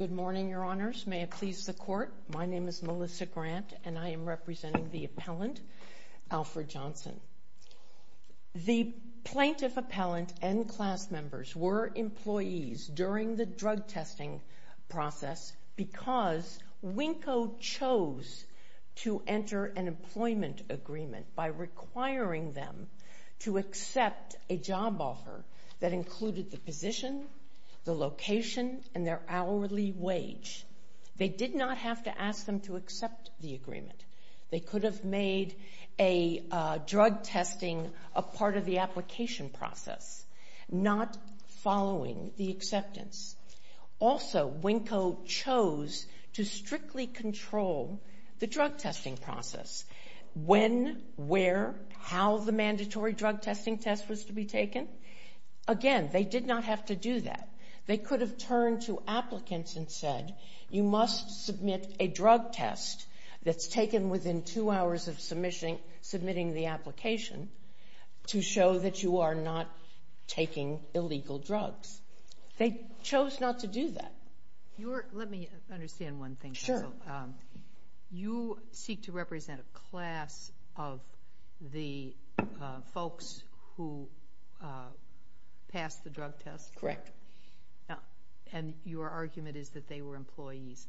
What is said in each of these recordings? Good morning, Your Honors. May it please the Court, my name is Melissa Grant, and I am representing the appellant, Alfred Johnson. The plaintiff, appellant, and class members were employees during the drug testing process because Winco chose to enter an employment agreement by requiring them to accept a job offer that included the position, the location, and their hourly wage. They did not have to ask them to accept the agreement. They could have made a drug testing a part of the application process, not following the acceptance. Also, Winco chose to strictly control the drug testing process. When, where, how the mandatory drug testing test was to be taken, again, they did not have to do that. They could have turned to applicants and said, you must submit a drug test that's taken within two hours of submitting the application to show that you are not taking illegal drugs. They chose not to do that. Let me understand one thing. You seek to represent a class of the folks who passed the drug test. Correct. And your argument is that they were employees.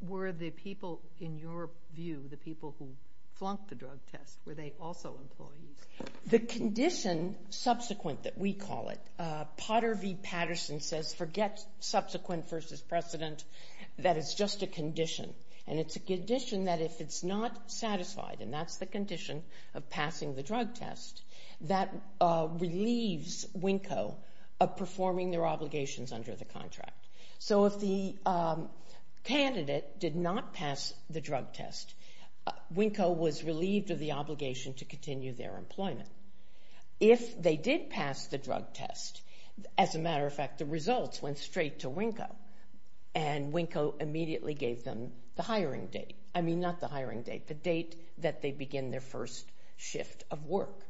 Were the people, in your view, the people who flunked the drug test, were they also employees? The condition subsequent that we call it, Potter v. Patterson says forget subsequent versus precedent, that it's just a condition. And it's a condition that if it's not satisfied, and that's the condition of passing the drug test, that relieves Winco of performing their obligations under the contract. So if the candidate did not pass the drug test, Winco was relieved of the obligation to continue their employment. If they did pass the drug test, as a matter of fact, the results went straight to Winco, and Winco immediately gave them the hiring date. I mean, not the hiring date, the date that they begin their first shift of work.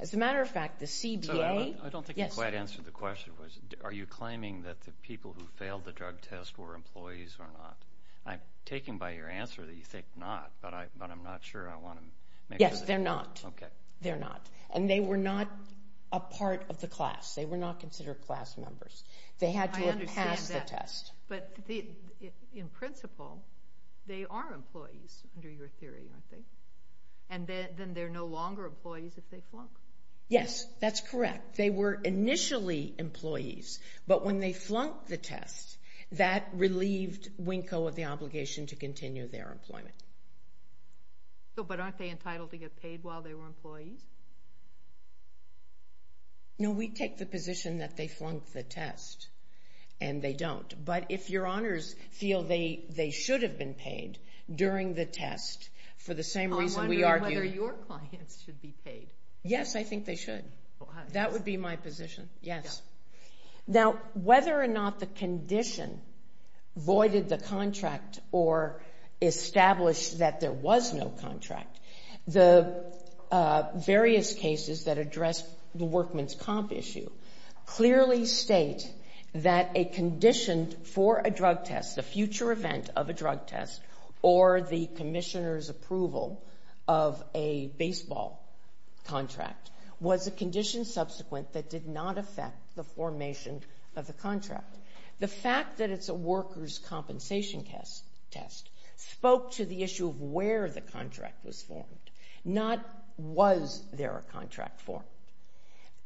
As a matter of fact, the CBA... I don't think you quite answered the question. Are you claiming that the people who failed the drug test were employees or not? I'm taken by your answer that you think not, but I'm not sure I want to make... Yes, they're not. Okay. They're not. And they were not a part of the class. They were not considered class members. They had to have passed the test. I understand that. But in principle, they are employees under your theory, aren't they? And then they're no longer employees if they flunk? Yes, that's correct. They were initially employees, but when they flunked the test, that relieved Winco of the obligation to continue their employment. But aren't they entitled to get paid while they were employees? No, we take the position that they flunked the test, and they don't. But if your honors feel they should have been paid during the test for the same reason we argued... I'm wondering whether your clients should be paid. Yes, I think they should. That would be my position. Yes. Now, whether or not the condition voided the contract or established that there was no contract, the various cases that address the workman's comp issue clearly state that a condition for a drug test, the future event of a drug test, or the commissioner's approval of a baseball contract was a condition subsequent that did not affect the formation of the contract. The fact that it's a worker's compensation test spoke to the issue of where the contract was formed, not was there a contract formed.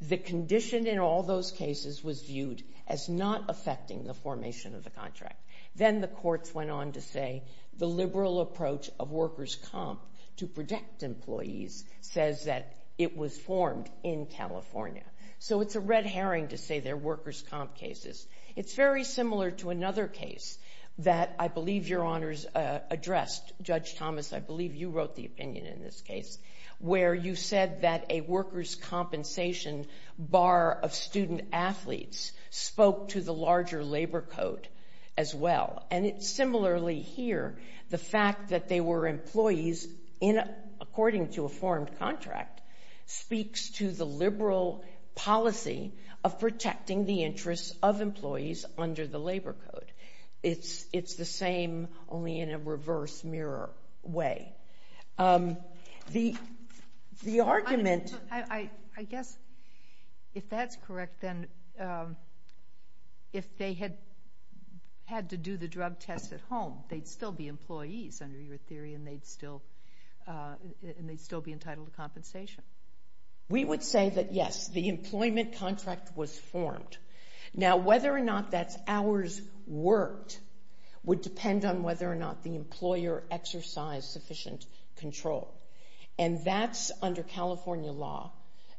The condition in all those cases was viewed as not affecting the formation of the contract. Then the courts went on to say the liberal approach of worker's comp to protect employees says that it was formed in California. So it's a red herring to say they're worker's comp cases. It's very similar to another case that I believe your honors addressed, Judge Thomas, I believe you wrote the opinion in this case, where you said that a worker's compensation bar of student-athletes spoke to the larger labor code as well. And similarly here, the fact that they were employees, according to a formed contract, speaks to the liberal policy of protecting the interests of employees under the labor code. It's the same, only in a reverse mirror way. The argument- I guess if that's correct, then if they had to do the drug test at home, they'd still be employees under your theory, and they'd still be entitled to compensation. We would say that yes, the employment contract was formed. Now whether or not that's ours worked would depend on whether or not the employer exercised sufficient control. And that's under California law,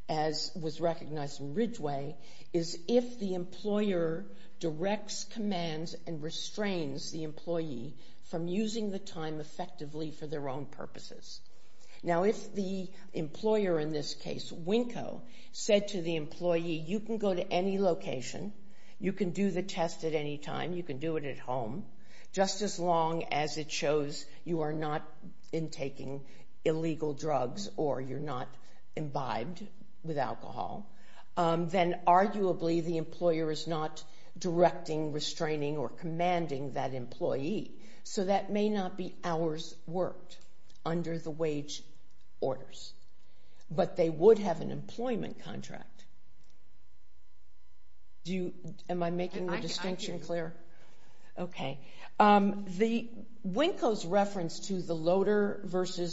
as was recognized in Ridgway, is if the employer directs, commands, and restrains the employee from using the time effectively for their own purposes. Now if the employer in this case, Winco, said to the employee, you can go to any location, you can do the test at any time, you can do it at home, just as long as it shows you are not intaking illegal drugs or you're not imbibed with alcohol, then arguably the employer is not directing, restraining, or commanding that employee. So that may not be ours worked under the wage orders. But they would have an employment contract. Do you- am I making the distinction clear? Okay. Winco's reference to the Loader v.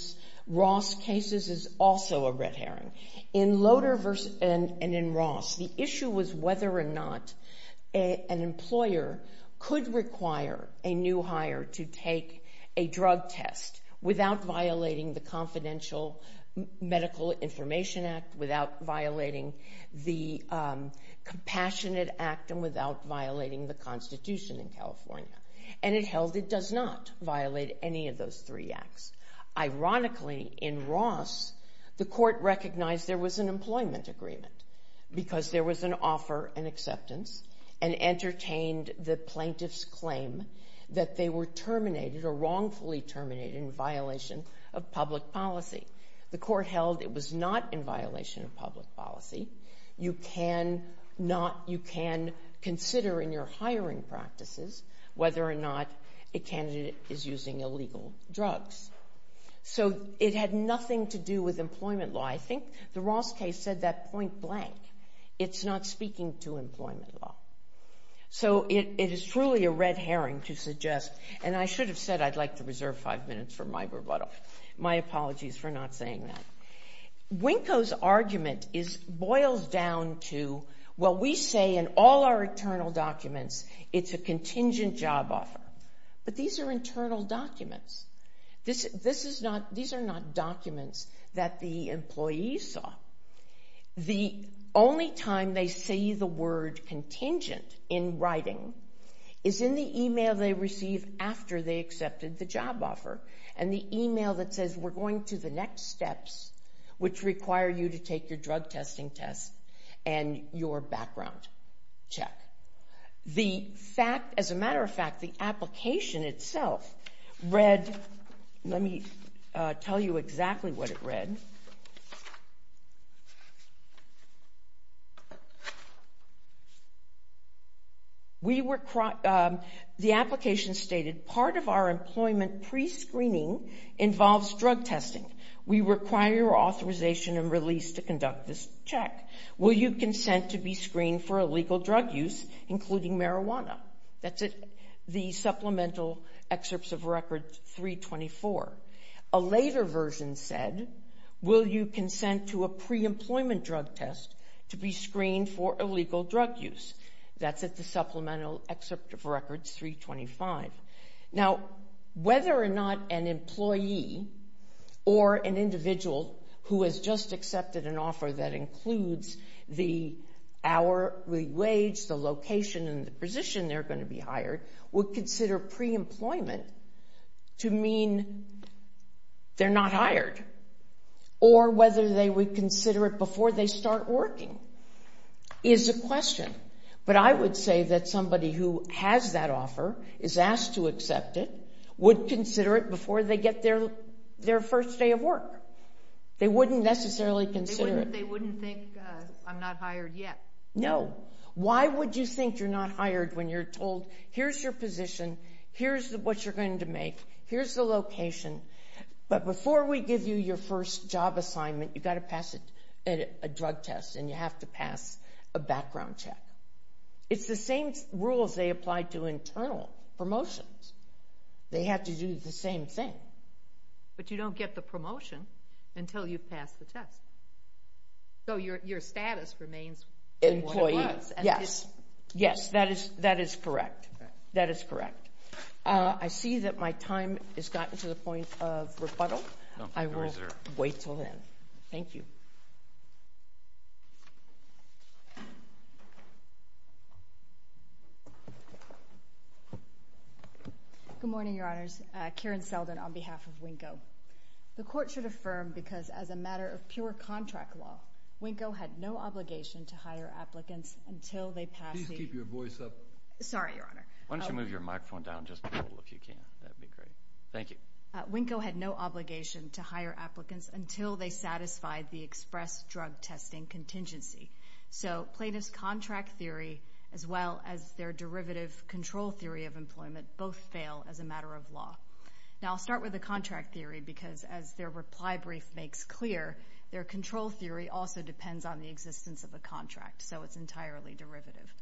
Ross cases is also a red herring. In Loader v. and in Ross, the issue was whether or not an employer could require a new hire to take a drug test without violating the Confidential Medical Information Act, without violating the Compassionate Act, and without violating the Constitution in California. And it held it does not violate any of those three acts. Ironically, in Ross, the court recognized there was an employment agreement because there was an offer and acceptance and entertained the plaintiff's claim that they were terminated or wrongfully terminated in violation of public policy. The court held it was not in violation of public policy. You can not- you can consider in your hiring practices whether or not a candidate is using illegal drugs. So it had nothing to do with employment law. I think the Ross case said that point blank. It's not speaking to employment law. So it is truly a red herring to suggest, and I should have said I'd like to reserve five minutes for my rebuttal. My apologies for not saying that. Winco's argument boils down to, well, we say in all our internal documents it's a contingent job offer. But these are internal documents. This is not- these are not documents that the employees saw. The only time they see the word contingent in writing is in the email they receive after they accepted the job offer and the email that says we're going to the next steps which require you to take your drug testing test and your background check. The fact- as a matter of fact, the application itself read- let me tell you exactly what it read. We were- the application stated part of our employment pre-screening involves drug testing. We require your authorization and release to conduct this check. Will you consent to be screened for illegal drug use including marijuana? That's the supplemental excerpts of record 324. A later version said, will you consent to a pre-employment drug test to be screened for illegal drug use? That's at the supplemental excerpt of record 325. Now whether or not an employee or an individual who has just accepted an offer that includes the hourly wage, the location, and the position they're going to be hired would consider pre-employment to mean they're not hired or whether they would consider it before they start working is a question. But I would say that somebody who has that offer, is asked to accept it, would consider it before they get their first day of work. They wouldn't necessarily consider it. They wouldn't think I'm not hired yet. No. Why would you think you're not hired when you're told here's your position, here's what you're going to make, here's the location, but before we give you your first job assignment you've got to pass a drug test and you have to pass a background check. It's the same rules they apply to internal promotions. They have to do the same thing. But you don't get the promotion until you pass the test. So your status remains what it was. Yes. Yes, that is correct. That is correct. I see that my time has gotten to the point of rebuttal. I will wait until then. Thank you. Good morning, Your Honors. Karen Seldon on behalf of Winko. The Court should affirm because as a matter of pure contract law, Winko had no obligation to hire applicants until they passed the... Please keep your voice up. Sorry, Your Honor. Why don't you move your microphone down just a little if you can. That would be great. Thank you. Winko had no obligation to hire applicants until they satisfied the express drug testing contingency. So plaintiff's contract theory as well as their derivative control theory of employment both fail as a matter of law. Now I'll start with the contract theory because as their reply brief makes clear, their control theory also depends on the existence of a contract. So it's entirely derivative.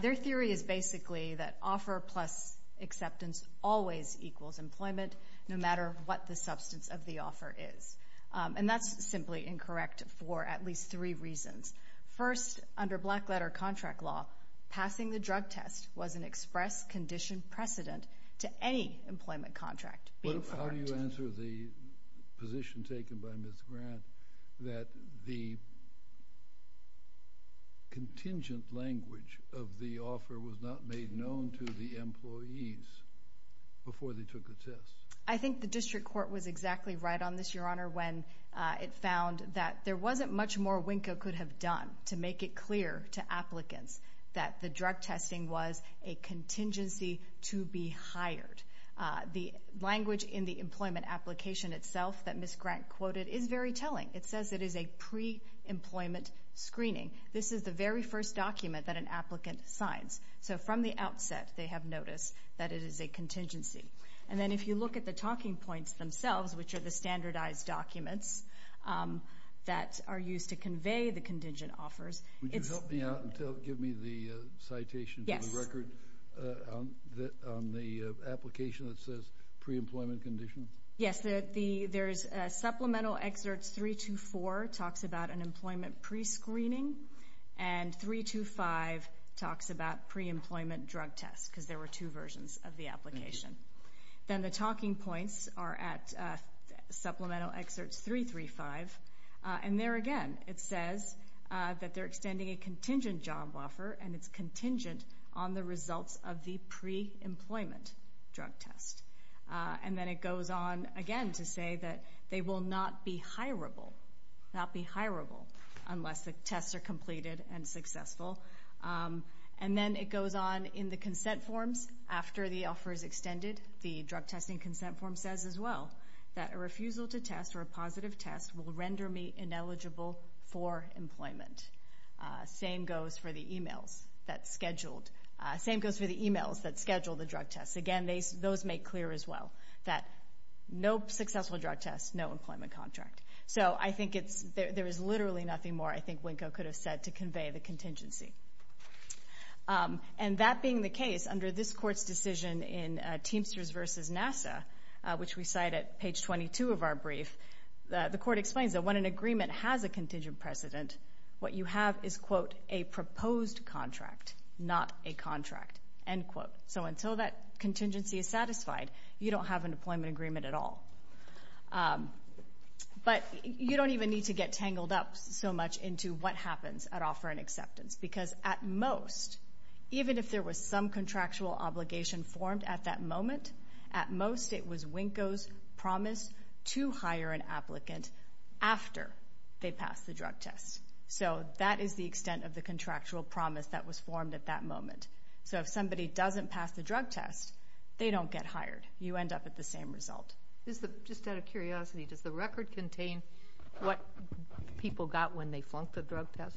Their theory is basically that offer plus acceptance always equals employment no matter what the substance of the offer is. And that's simply incorrect for at least three reasons. First, under black letter contract law, passing the drug test was an express condition precedent to any employment contract being formed. How do you answer the position taken by Ms. Grant that the contingent language of the offer was not made known to the employees before they took the test? I think the District Court was exactly right on this, Your Honor, when it found that there wasn't much more Winko could have done to make it clear to applicants that the drug test was being hired. The language in the employment application itself that Ms. Grant quoted is very telling. It says it is a pre-employment screening. This is the very first document that an applicant signs. So from the outset, they have noticed that it is a contingency. And then if you look at the talking points themselves, which are the standardized documents that are used to convey the contingent offers, it's... The application that says pre-employment condition? Yes, there's Supplemental Exerts 324 talks about an employment pre-screening, and 325 talks about pre-employment drug tests, because there were two versions of the application. Then the talking points are at Supplemental Exerts 335. And there again, it says that they're extending a contingent job offer, and it's contingent on the results of the pre-employment drug test. And then it goes on again to say that they will not be hireable, not be hireable, unless the tests are completed and successful. And then it goes on in the consent forms after the offer is extended. The drug testing consent form says as well that a refusal to test or a positive test will render me ineligible for employment. Same goes for the emails that schedule the drug tests. Again, those make clear as well that no successful drug tests, no employment contract. So I think there is literally nothing more I think Winko could have said to convey the contingency. And that being the case, under this Court's decision in Teamsters v. NASA, which we cite at page 22 of our brief, the Court explains that when an agreement has a contingent precedent, what you have is, quote, a proposed contract, not a contract, end quote. So until that contingency is satisfied, you don't have an employment agreement at all. But you don't even need to get tangled up so much into what happens at offer and acceptance. Because at most, even if there was some contractual obligation formed at that moment, at most it was Winko's promise to hire an applicant after they passed the drug test. So that is the extent of the contractual promise that was formed at that moment. So if somebody doesn't pass the drug test, they don't get hired. You end up with the same result. Just out of curiosity, does the record contain what people got when they flunked the drug test?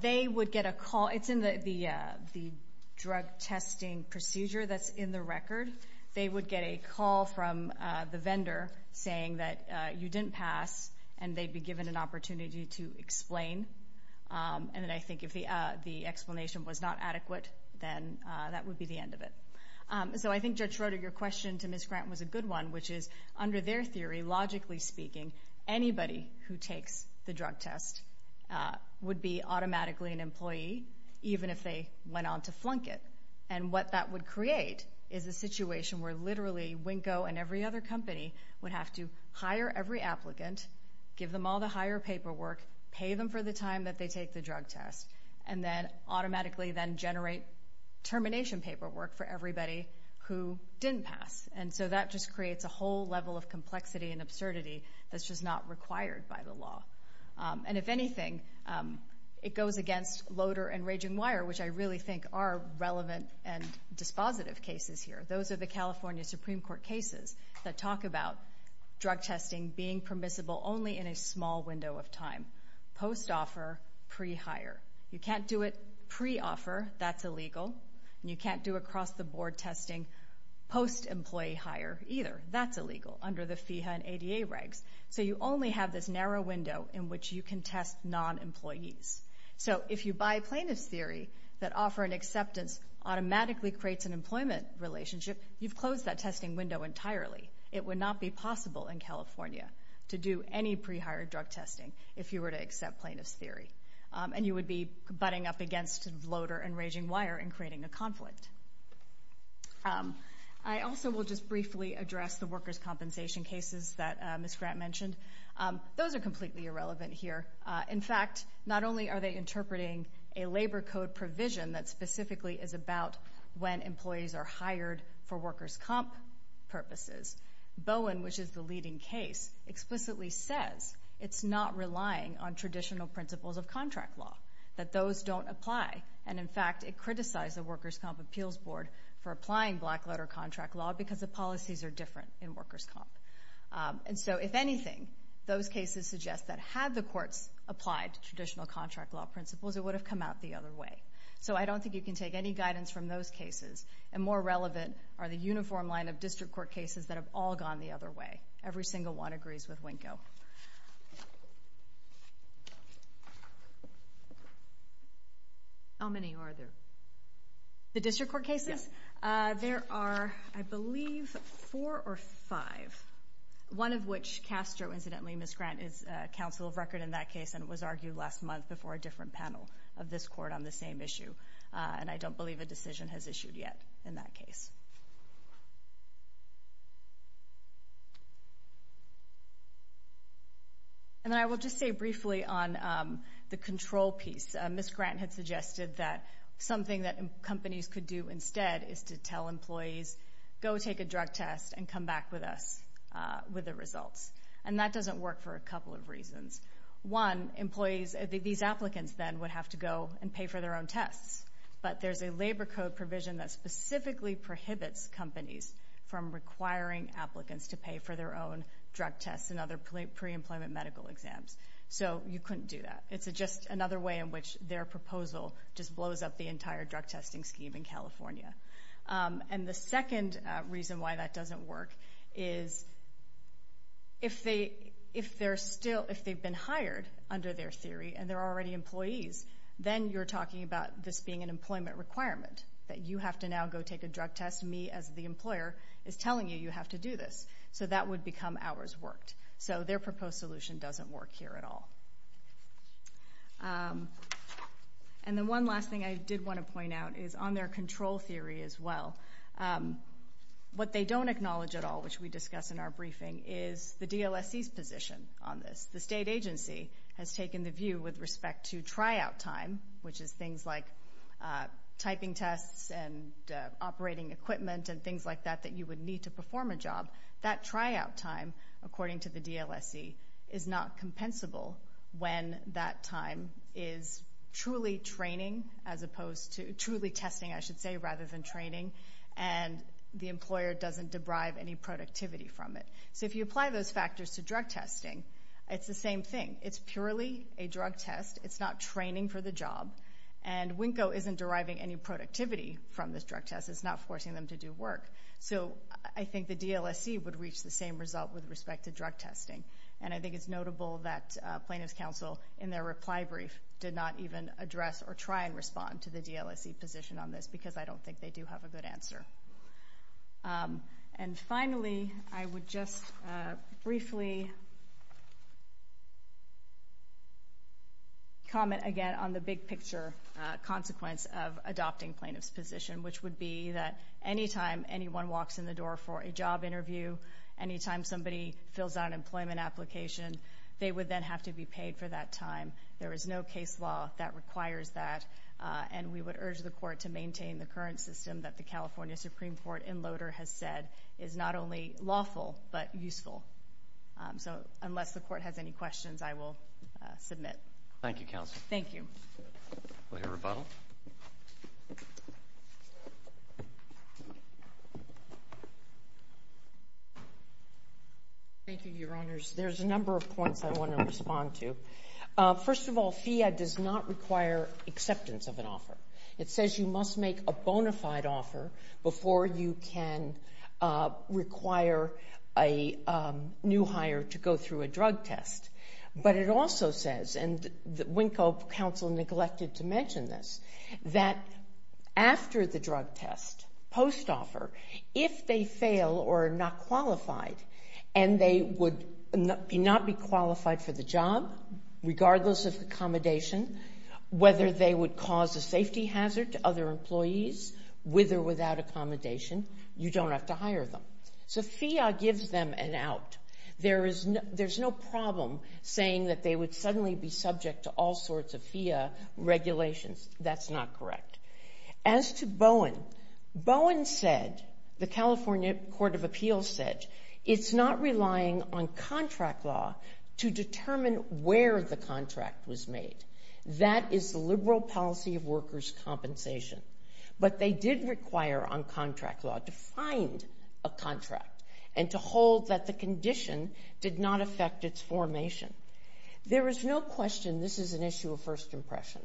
They would get a call. It's in the drug testing procedure that's in the record. They would get a call from the vendor saying that you didn't pass, and they'd be given an opportunity to explain. And I think if the explanation was not adequate, then that would be the end of it. So I think, Judge Schroeder, your question to Ms. Grant was a good one, which is, under their theory, logically speaking, anybody who takes the drug test would be automatically an employee, even if they went on to flunk it. And what that would create is a situation where literally Winko and every other company would have to hire every applicant, give them all the hire paperwork, pay them for the time that they take the drug test, and then automatically then generate termination paperwork for everybody who didn't pass. And so that just creates a whole level of complexity and absurdity that's just not required by the law. And if anything, it goes against Loader and Raging Wire, which I really think are relevant and dispositive cases here. Those are the California Supreme Court cases that talk about drug testing being permissible only in a small window of time, post-offer, pre-hire. You can't do it pre-offer. That's illegal. And you can't do across-the-board testing post-employee either. That's illegal under the FEHA and ADA regs. So you only have this narrow window in which you can test non-employees. So if you buy plaintiff's theory that offer and acceptance automatically creates an employment relationship, you've closed that testing window entirely. It would not be possible in California to do any pre-hire drug testing if you were to accept plaintiff's theory. And you would be butting up against Loader and Raging Wire in creating a conflict. I also will just briefly address the workers' compensation cases that Ms. Grant mentioned. Those are completely irrelevant here. In fact, not only are they interpreting a labor code provision that specifically is about when employees are hired for workers' comp purposes, Bowen, which is the leading case, explicitly says it's not relying on traditional principles of contract law, that those don't apply. And in fact, it criticized the workers' comp appeals board for applying black-letter contract law because the policies are different in workers' comp. And so if anything, those cases suggest that had the courts applied traditional contract law principles, it would have come out the other way. So I don't think you can take any guidance from those cases. And more relevant are the uniform line of district court cases that have all gone the other way. Every single one agrees with Winko. How many are there? The district court cases? There are, I believe, four or five, one of which Castro, incidentally, Ms. Grant is counsel of record in that case and was argued last month before a different panel of this court on the same issue. And I don't believe a decision has issued yet in that case. And then I will just say briefly on the control piece. Ms. Grant had suggested that something that companies could do instead is to tell employees, go take a drug test and come back with us with the results. And that doesn't work for a couple of reasons. One, employees, these applicants then would have to go and pay for their own tests. But there's a labor code provision that specifically prohibits companies from requiring applicants to pay for their own drug tests and other pre-employment medical exams. So you couldn't do that. It's just another way in which their proposal just blows up the entire drug testing scheme in California. And the second reason why that doesn't work is if they've been hired under their theory and they're already employees, then you're talking about this being an employment requirement, that you have to now go take a drug test. Me, as the employer, is telling you you have to do this. So that would become hours worked. So their proposed solution doesn't work here at all. And the one last thing I did want to point out is on their control theory as well. What they don't acknowledge at all, which we discuss in our briefing, is the DLSC's position on this. The state agency has taken the view with respect to typing tests and operating equipment and things like that that you would need to perform a job. That tryout time, according to the DLSC, is not compensable when that time is truly training as opposed to truly testing, I should say, rather than training. And the employer doesn't deprive any productivity from it. So if you apply those factors to drug testing, it's the same thing. It's purely a drug test. It's not training for the job. And Winko isn't deriving any productivity from this drug test. It's not forcing them to do work. So I think the DLSC would reach the same result with respect to drug testing. And I think it's notable that plaintiff's counsel, in their reply brief, did not even address or try and respond to the DLSC position on this because I don't think they do have a good answer. And finally, I would just briefly comment again on the big picture consequence of adopting plaintiff's position, which would be that any time anyone walks in the door for a job interview, any time somebody fills out an employment application, they would then have to be paid for that time. There is no case law that requires that. And we would urge the Court to maintain the current system that the California Supreme Court in Loader has said is not only lawful but useful. So unless the Court has any questions, I will submit. Thank you, Counsel. Thank you. Will you rebuttal? Thank you, Your Honors. There's a number of points I want to respond to. First of all, FIIA does not require acceptance of an offer. It says you must make a bona fide offer before you can require a new hire to go through a drug test. But it also says, and Winko, Counsel neglected to mention this, that after the drug test, post-offer, if they fail or are not qualified and they would not be qualified for the job, regardless of accommodation, whether they would cause a safety hazard to other employees with or without accommodation, you don't have to hire them. So FIIA gives them an out. There's no problem saying that they would suddenly be subject to all sorts of FIIA regulations. That's not correct. As to Bowen, Bowen said, the California Court of Appeals said, it's not relying on contract law to determine where the contract was made. That is the liberal policy of workers' compensation. But they did require on contract law to find a contract and to hold that the condition did not affect its formation. There is no question this is an issue of first impression.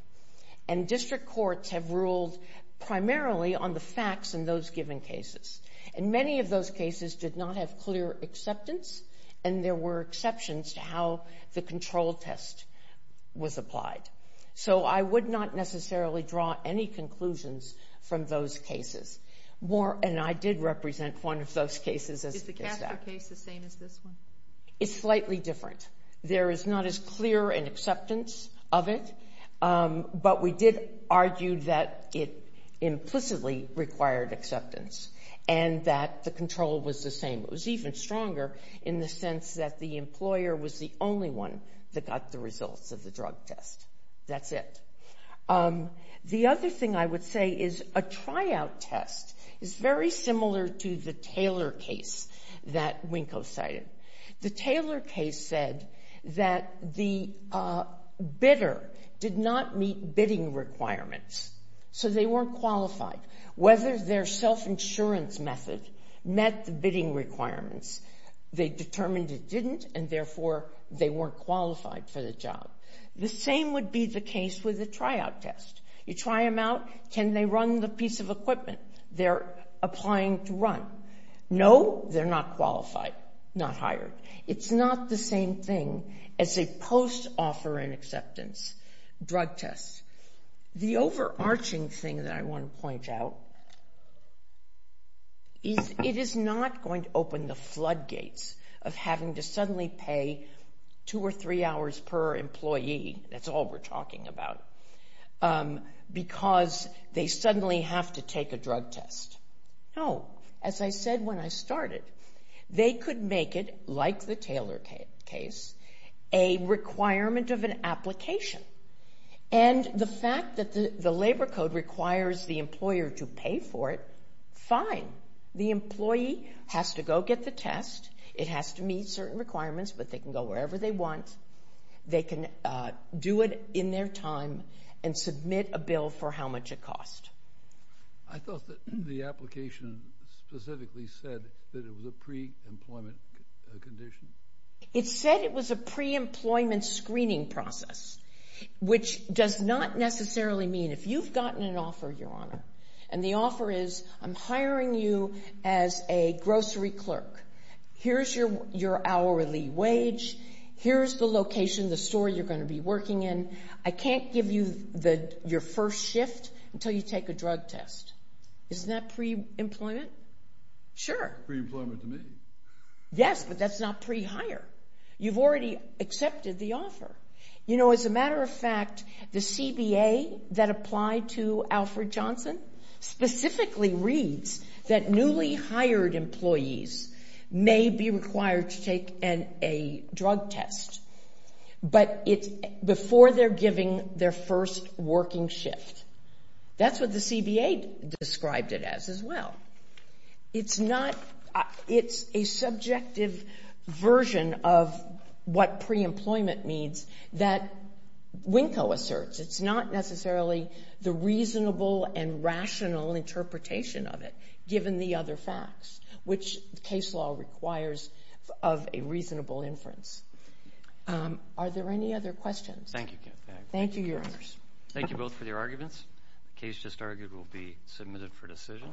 And district courts have ruled primarily on the facts in those given cases. And many of those cases did not have clear acceptance and there were exceptions to how the control test was applied. So I would not necessarily draw any conclusions from those cases. And I did represent one of those cases. Is the Castro case the same as this one? It's slightly different. There is not as clear an acceptance of it. But we did argue that it implicitly required acceptance and that the control was the same. It was even stronger in the sense that the employer was the only one that got the results of the drug test. That's it. The other thing I would say is a tryout test is very similar to the Taylor case that Winko cited. The Taylor case said that the bidder did not meet bidding requirements. So they weren't qualified. Whether their self-insurance method met the bidding requirements, they determined it didn't and therefore they weren't qualified for the job. The same would be the case with the tryout test. You try them out, can they run the piece of equipment they're applying to run? No, they're not qualified, not hired. It's not the same thing as a post-offer in acceptance drug test. The overarching thing that I want to point out is it is not going to open the floodgates of having to suddenly pay two or three hours per employee. That's all we're talking about. Because they suddenly have to take a drug test. No. As I said when I started, they could make it, like the Taylor case, a requirement of an application. And the fact that the labor code requires the employer to pay for it, fine. The employee has to go get the test. It has to meet certain requirements, but they can go wherever they want. They can do it in their time and submit a bill for how much it costs. I thought that the application specifically said that it was a pre-employment condition. It said it was a pre-employment screening process, which does not necessarily mean if you've gotten an offer, Your Honor, and the offer is I'm hiring you as a grocery clerk. Here's your location, the store you're going to be working in. I can't give you your first shift until you take a drug test. Isn't that pre-employment? Sure. Yes, but that's not pre-hire. You've already accepted the offer. You know, as a matter of fact, the CBA that applied to Alfred test, but it's before they're giving their first working shift. That's what the CBA described it as as well. It's not, it's a subjective version of what pre-employment means that Winko asserts. It's not necessarily the reasonable and rational interpretation of it, given the Are there any other questions? Thank you. Thank you, Your Honors. Thank you both for your arguments. The case just argued will be submitted for decision.